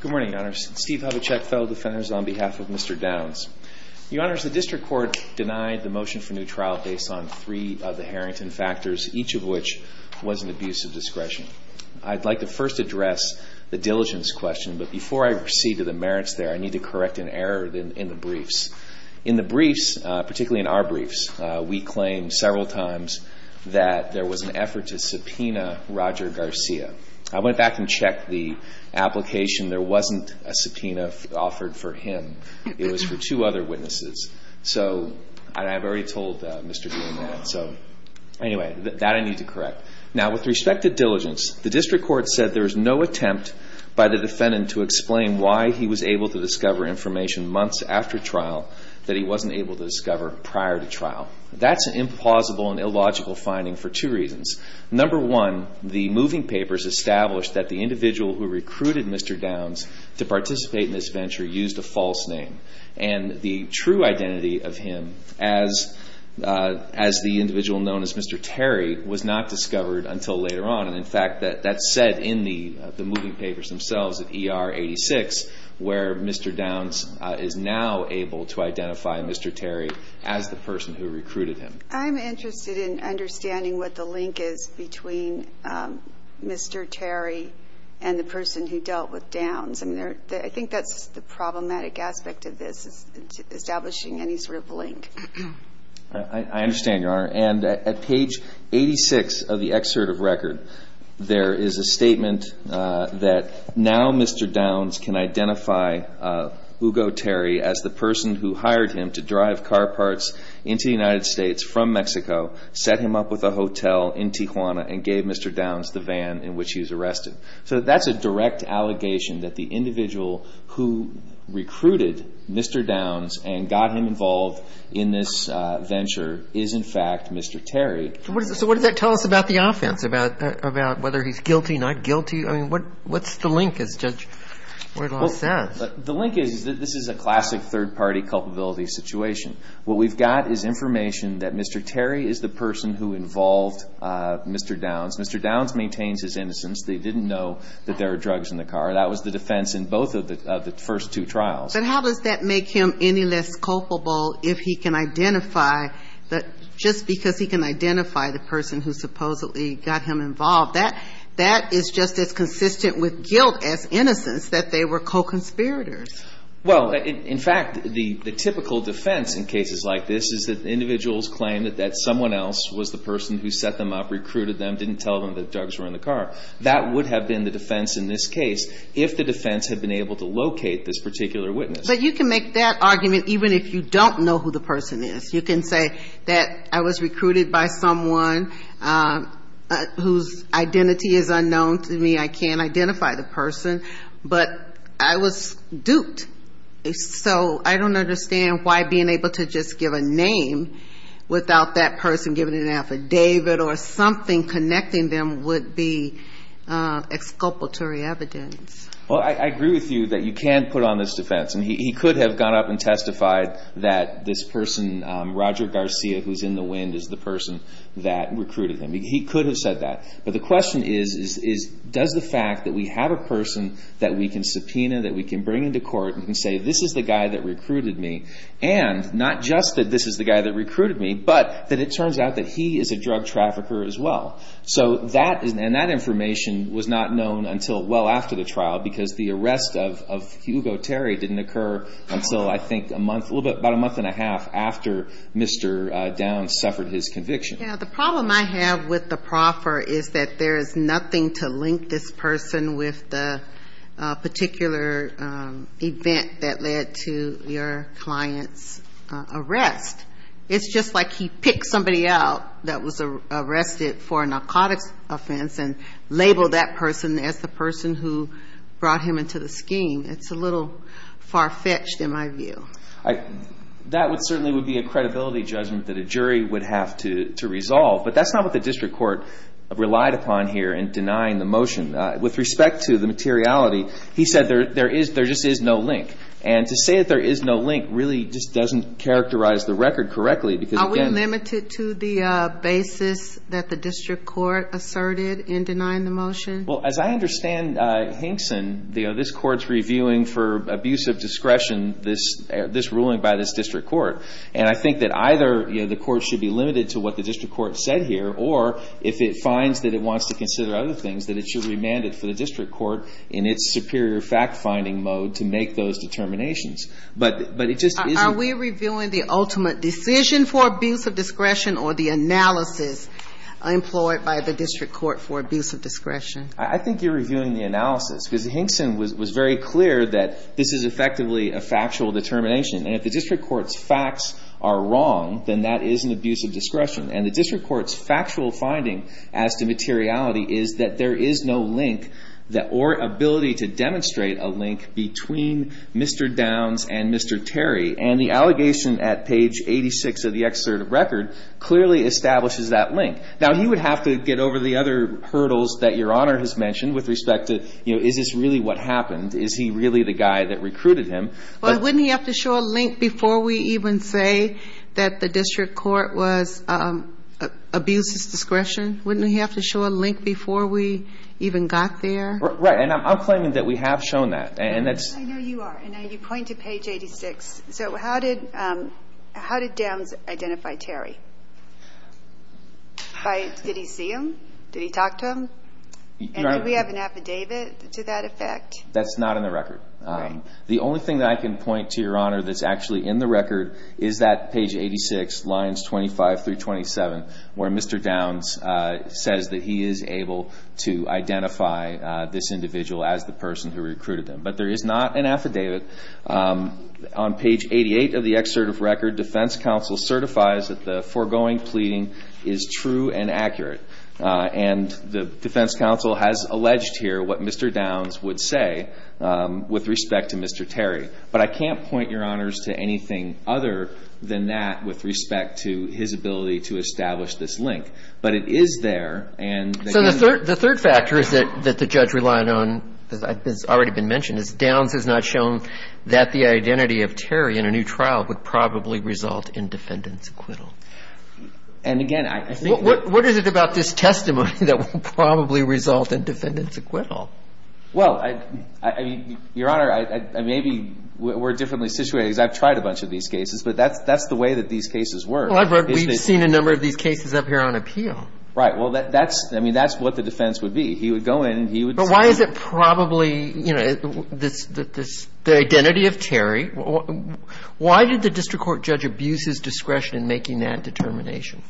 Good morning, Your Honors. Steve Hubachek, Federal Defenders, on behalf of Mr. Downs. Your Honors, the District Court denied the motion for new trial based on three of the Harrington factors, each of which was an abuse of discretion. I'd like to first address the diligence question, but before I proceed to the merits there, I need to correct an error in the briefs. In the briefs, particularly in our briefs, we claimed several times that there was an effort to subpoena Roger Garcia. I went back and checked the application. There wasn't a subpoena offered for him. It was for two other witnesses. So, and I've already told Mr. Green that. So, anyway, that I need to correct. Now, with respect to diligence, the District Court said there was no attempt by the defendant to explain why he was able to discover information months after trial that he wasn't able to discover prior to trial. That's an implausible and illogical finding for two reasons. Number one, the moving papers established that the individual who recruited Mr. Downs to participate in this venture used a false name. And the true identity of him as the individual known as Mr. Terry was not discovered until later on. And, in fact, that's said in the moving papers themselves at ER 86, where Mr. Downs is now able to identify Mr. Terry as the person who recruited him. I'm interested in understanding what the link is between Mr. Terry and the person who dealt with Downs. I think that's the problematic aspect of this, is establishing any sort of link. I understand, Your Honor. And at page 86 of the excerpt of record, there is a statement that now Mr. Downs can identify Hugo Terry as the person who hired him to drive car parts into the United States from Mexico, set him up with a hotel in Tijuana, and gave Mr. Downs the van in which he was arrested. So that's a direct allegation that the individual who recruited Mr. Downs and got him involved in this venture is, in fact, Mr. Terry. So what does that tell us about the offense, about whether he's guilty, not guilty? I mean, what's the link, as Judge Wardlaw says? The link is that this is a classic third-party culpability situation. What we've got is information that Mr. Terry is the person who involved Mr. Downs. Mr. Downs maintains his innocence. They didn't know that there were drugs in the car. That was the defense in both of the first two trials. But how does that make him any less culpable if he can identify, just because he can identify the person who supposedly got him involved, that is just as consistent with guilt as innocence that they were co-conspirators? Well, in fact, the typical defense in cases like this is that individuals claim that someone else was the person who set them up, recruited them, didn't tell them that drugs were in the car. That would have been the defense in this case if the defense had been able to locate this particular witness. But you can make that argument even if you don't know who the person is. You can say that I was recruited by someone whose identity is unknown to me. I can't identify the person, but I was duped. So I don't understand why being able to just give a name without that person giving an affidavit or something connecting them would be exculpatory evidence. Well, I agree with you that you can put on this defense. And he could have gone up and testified that this person, Roger Garcia, who's in the wind, is the person that recruited him. He could have said that. But the question is, does the fact that we have a person that we can subpoena, that we can bring into court, and say this is the guy that recruited me, and not just that this is the guy that recruited me, but that it turns out that he is a drug trafficker as well. And that information was not known until well after the trial, because the arrest of Hugo Terry didn't occur until, I think, a month, a little bit, about a month and a half after Mr. Downs suffered his conviction. Yeah, the problem I have with the proffer is that there is nothing to link this person with the particular event that led to your client's arrest. It's just like he picked somebody out that was arrested for a narcotics offense and labeled that person as the person who brought him into the scheme. It's a little far-fetched in my view. That certainly would be a credibility judgment that a jury would have to resolve. But that's not what the district court relied upon here in denying the motion. With respect to the materiality, he said there just is no link. And to say that there is no link really just doesn't characterize the record correctly. Are we limited to the basis that the district court asserted in denying the motion? Well, as I understand Hinkson, this court is reviewing for abuse of discretion this ruling by this district court. And I think that either the court should be limited to what the district court said here, or if it finds that it wants to consider other things, that it should remand it for the district court in its superior fact-finding mode to make those determinations. But it just isn't. Are we reviewing the ultimate decision for abuse of discretion or the analysis employed by the district court for abuse of discretion? I think you're reviewing the analysis, because Hinkson was very clear that this is effectively a factual determination. And if the district court's facts are wrong, then that is an abuse of discretion. And the district court's factual finding as to materiality is that there is no link or ability to demonstrate a link between Mr. Downs and Mr. Terry. And the allegation at page 86 of the excerpt of record clearly establishes that link. Now, he would have to get over the other hurdles that Your Honor has mentioned with respect to, you know, is this really what happened? Is he really the guy that recruited him? Well, wouldn't he have to show a link before we even say that the district court was abuse of discretion? Wouldn't he have to show a link before we even got there? Right, and I'm claiming that we have shown that. I know you are, and you point to page 86. So how did Downs identify Terry? Did he see him? Did he talk to him? And did we have an affidavit to that effect? That's not in the record. The only thing that I can point to, Your Honor, that's actually in the record is that page 86, lines 25 through 27, where Mr. Downs says that he is able to identify this individual as the person who recruited him. But there is not an affidavit. On page 88 of the excerpt of record, defense counsel certifies that the foregoing pleading is true and accurate. And the defense counsel has alleged here what Mr. Downs would say with respect to Mr. Terry. But I can't point, Your Honors, to anything other than that with respect to his ability to establish this link. But it is there. So the third factor is that the judge relied on, as has already been mentioned, is Downs has not shown that the identity of Terry in a new trial would probably result in defendant's acquittal. And, again, I think that – What is it about this testimony that will probably result in defendant's acquittal? Well, I mean, Your Honor, maybe we're differently situated because I've tried a bunch of these cases. But that's the way that these cases work. Well, I've read – we've seen a number of these cases up here on appeal. Right. Well, that's – I mean, that's what the defense would be. He would go in and he would – So why is it probably, you know, the identity of Terry – why did the district court judge abuse his discretion in making that determination?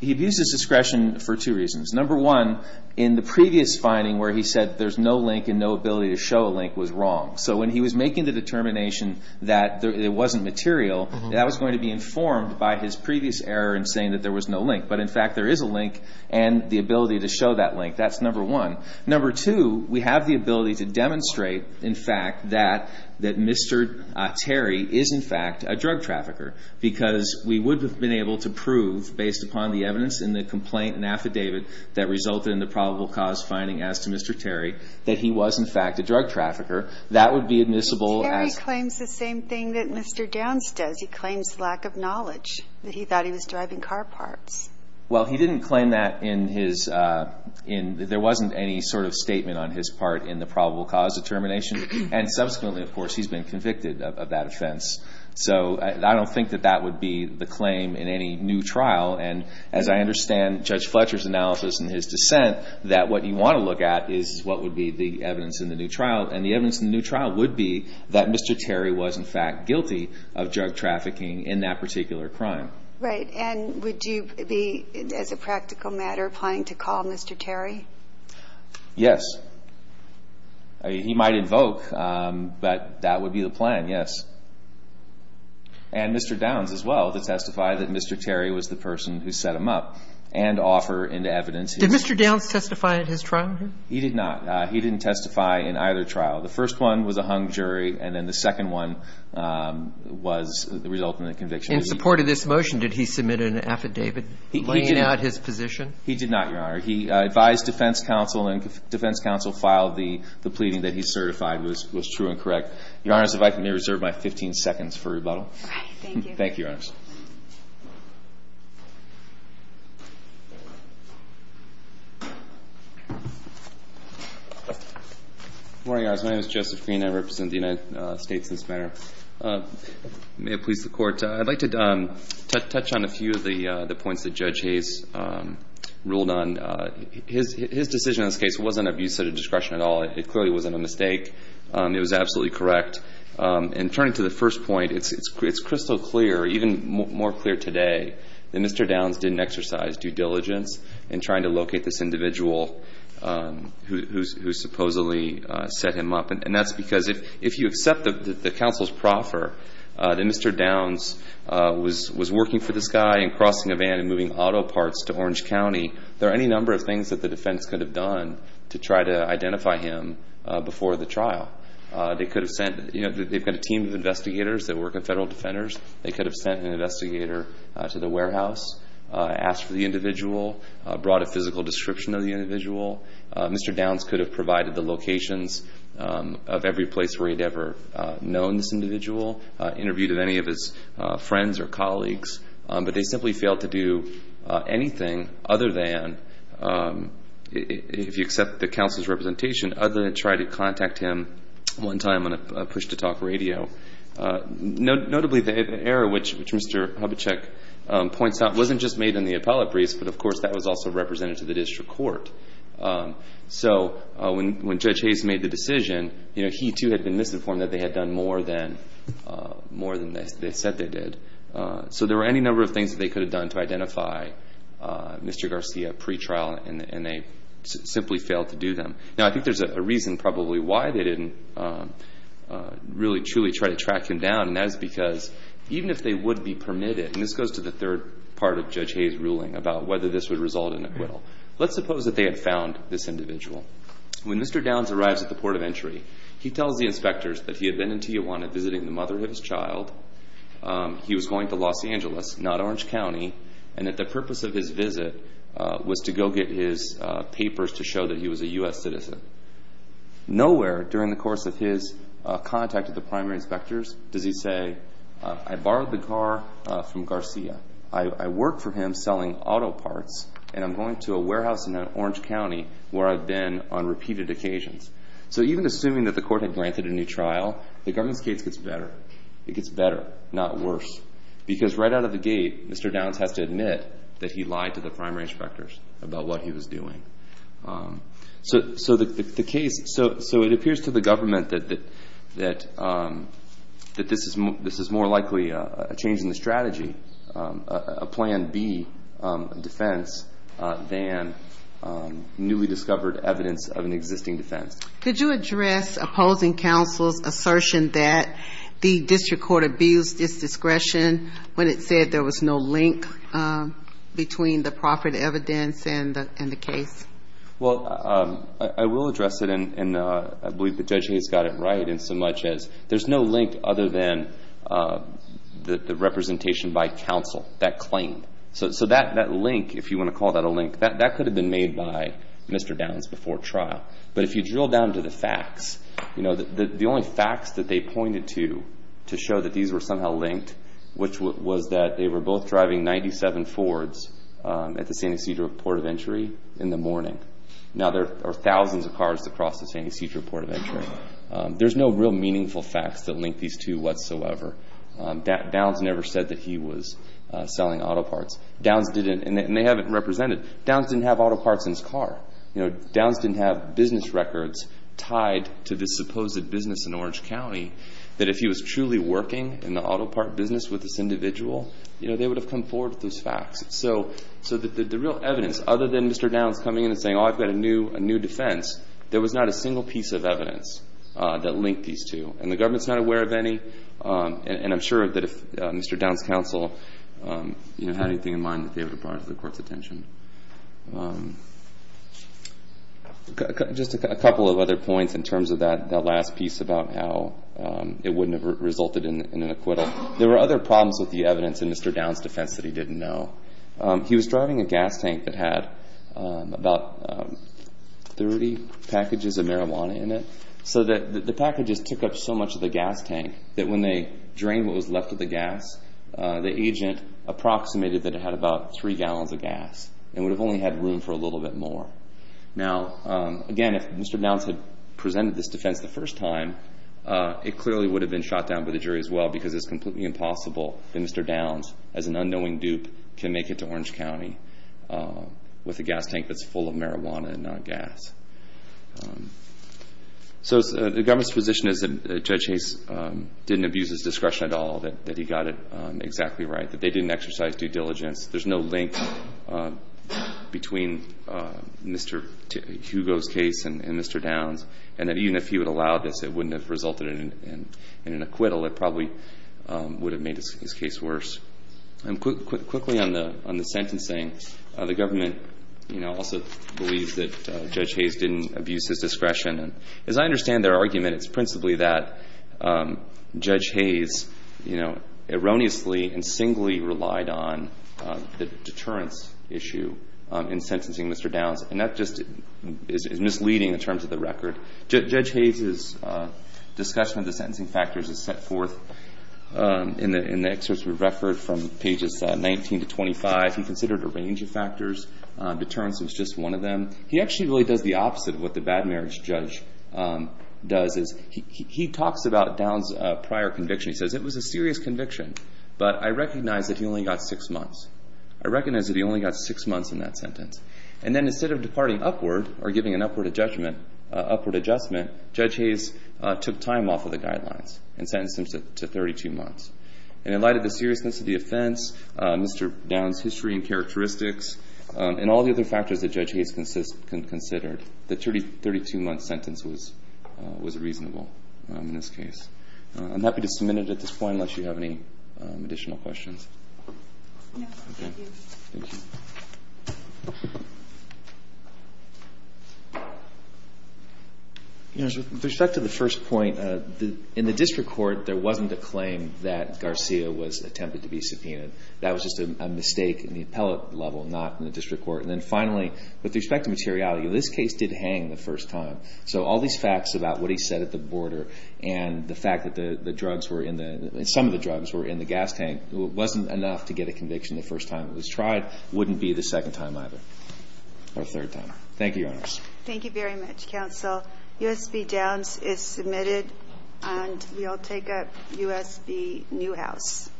He abused his discretion for two reasons. Number one, in the previous finding where he said there's no link and no ability to show a link was wrong. So when he was making the determination that it wasn't material, that was going to be informed by his previous error in saying that there was no link. But, in fact, there is a link and the ability to show that link. That's number one. Number two, we have the ability to demonstrate, in fact, that Mr. Terry is, in fact, a drug trafficker. Because we would have been able to prove, based upon the evidence in the complaint and affidavit that resulted in the probable cause finding as to Mr. Terry, that he was, in fact, a drug trafficker. That would be admissible as – But Terry claims the same thing that Mr. Downs does. He claims lack of knowledge, that he thought he was driving car parts. Well, he didn't claim that in his – there wasn't any sort of statement on his part in the probable cause determination. And, subsequently, of course, he's been convicted of that offense. So I don't think that that would be the claim in any new trial. And, as I understand Judge Fletcher's analysis in his dissent, that what you want to look at is what would be the evidence in the new trial. And the evidence in the new trial would be that Mr. Terry was, in fact, guilty of drug trafficking in that particular crime. Right. And would you be, as a practical matter, applying to call Mr. Terry? Yes. He might invoke, but that would be the plan, yes. And Mr. Downs, as well, to testify that Mr. Terry was the person who set him up and offer into evidence. Did Mr. Downs testify in his trial? He did not. He didn't testify in either trial. The first one was a hung jury, and then the second one was the resultant conviction. In support of this motion, did he submit an affidavit laying out his position? He did not, Your Honor. He advised defense counsel, and defense counsel filed the pleading that he certified was true and correct. Your Honors, if I may reserve my 15 seconds for rebuttal. Thank you. Thank you, Your Honors. Good morning, Your Honors. My name is Joseph Green. I represent the United States in this matter. May it please the Court, I'd like to touch on a few of the points that Judge Hayes ruled on. His decision in this case wasn't abuse of discretion at all. It clearly wasn't a mistake. It was absolutely correct. And turning to the first point, it's crystal clear, even more clear today, that Mr. Downs didn't exercise due diligence in trying to locate this individual who supposedly set him up. And that's because if you accept that the counsels proffer that Mr. Downs was working for this guy and crossing a van and moving auto parts to Orange County, there are any number of things that the defense could have done to try to identify him before the trial. They could have sent, you know, they've got a team of investigators that work in federal defenders. They could have sent an investigator to the warehouse, asked for the individual, brought a physical description of the individual. Mr. Downs could have provided the locations of every place where he'd ever known this individual, interviewed any of his friends or colleagues. But they simply failed to do anything other than, if you accept the counsel's representation, other than try to contact him one time on a push-to-talk radio. Notably, the error which Mr. Hubachek points out wasn't just made in the appellate briefs, but, of course, that was also represented to the district court. So when Judge Hayes made the decision, he too had been misinformed that they had done more than they said they did. So there were any number of things that they could have done to identify Mr. Garcia pre-trial, and they simply failed to do them. Now, I think there's a reason probably why they didn't really truly try to track him down, and that is because even if they would be permitted, and this goes to the third part of Judge Hayes' ruling about whether this would result in acquittal, let's suppose that they had found this individual. When Mr. Downs arrives at the port of entry, he tells the inspectors that he had been in Tijuana visiting the mother of his child, he was going to Los Angeles, not Orange County, and that the purpose of his visit was to go get his papers to show that he was a U.S. citizen. Nowhere during the course of his contact with the primary inspectors does he say, I borrowed the car from Garcia, I work for him selling auto parts, and I'm going to a warehouse in Orange County where I've been on repeated occasions. So even assuming that the court had granted a new trial, the government's case gets better. It gets better, not worse, because right out of the gate Mr. Downs has to admit that he lied to the primary inspectors about what he was doing. So it appears to the government that this is more likely a change in the strategy, a Plan B defense, than newly discovered evidence of an existing defense. Could you address opposing counsel's assertion that the district court abused its discretion when it said there was no link between the proffered evidence and the case? Well, I will address it, and I believe that Judge Hayes got it right in so much as there's no link other than the representation by counsel, that claim. So that link, if you want to call that a link, that could have been made by Mr. Downs before trial. But if you drill down to the facts, the only facts that they pointed to to show that these were somehow linked, which was that they were both driving 97 Fords at the San Ysidro Port of Entry in the morning. Now, there are thousands of cars across the San Ysidro Port of Entry. There's no real meaningful facts that link these two whatsoever. Downs never said that he was selling auto parts. Downs didn't, and they haven't represented. Downs didn't have auto parts in his car. Downs didn't have business records tied to this supposed business in Orange County that if he was truly working in the auto part business with this individual, they would have come forward with those facts. So the real evidence, other than Mr. Downs coming in and saying, oh, I've got a new defense, there was not a single piece of evidence that linked these two, and the government's not aware of any. And I'm sure that if Mr. Downs' counsel had anything in mind, just a couple of other points in terms of that last piece about how it wouldn't have resulted in an acquittal. There were other problems with the evidence in Mr. Downs' defense that he didn't know. He was driving a gas tank that had about 30 packages of marijuana in it. So the packages took up so much of the gas tank that when they drained what was left of the gas, the agent approximated that it had about three gallons of gas. It would have only had room for a little bit more. Now, again, if Mr. Downs had presented this defense the first time, it clearly would have been shot down by the jury as well because it's completely impossible that Mr. Downs, as an unknowing dupe, can make it to Orange County with a gas tank that's full of marijuana and not gas. So the government's position is that Judge Hayes didn't abuse his discretion at all, that he got it exactly right, that they didn't exercise due diligence. There's no link between Mr. Hugo's case and Mr. Downs, and that even if he would have allowed this, it wouldn't have resulted in an acquittal. It probably would have made his case worse. Quickly on the sentencing, the government also believes that Judge Hayes didn't abuse his discretion. As I understand their argument, it's principally that Judge Hayes, you know, erroneously and singly relied on the deterrence issue in sentencing Mr. Downs, and that just is misleading in terms of the record. Judge Hayes' discussion of the sentencing factors is set forth in the excerpt of the record from pages 19 to 25. He considered a range of factors. Deterrence was just one of them. He actually really does the opposite of what the bad marriage judge does. He talks about Downs' prior conviction. He says, it was a serious conviction, but I recognize that he only got six months. I recognize that he only got six months in that sentence. And then instead of departing upward or giving an upward adjustment, Judge Hayes took time off of the guidelines and sentenced him to 32 months. And in light of the seriousness of the offense, Mr. Downs' history and characteristics and all the other factors that Judge Hayes considered, the 32-month sentence was reasonable in this case. I'm happy to submit it at this point unless you have any additional questions. No, thank you. Thank you. With respect to the first point, in the district court, there wasn't a claim that Garcia was attempted to be subpoenaed. That was just a mistake in the appellate level, not in the district court. And then finally, with respect to materiality, this case did hang the first time. So all these facts about what he said at the border and the fact that the drugs were in the ñ some of the drugs were in the gas tank wasn't enough to get a conviction the first time it was tried, wouldn't be the second time either or third time. Thank you, Your Honors. Thank you very much, Counsel. USB Downs is submitted, and we'll take up USB Newhouse.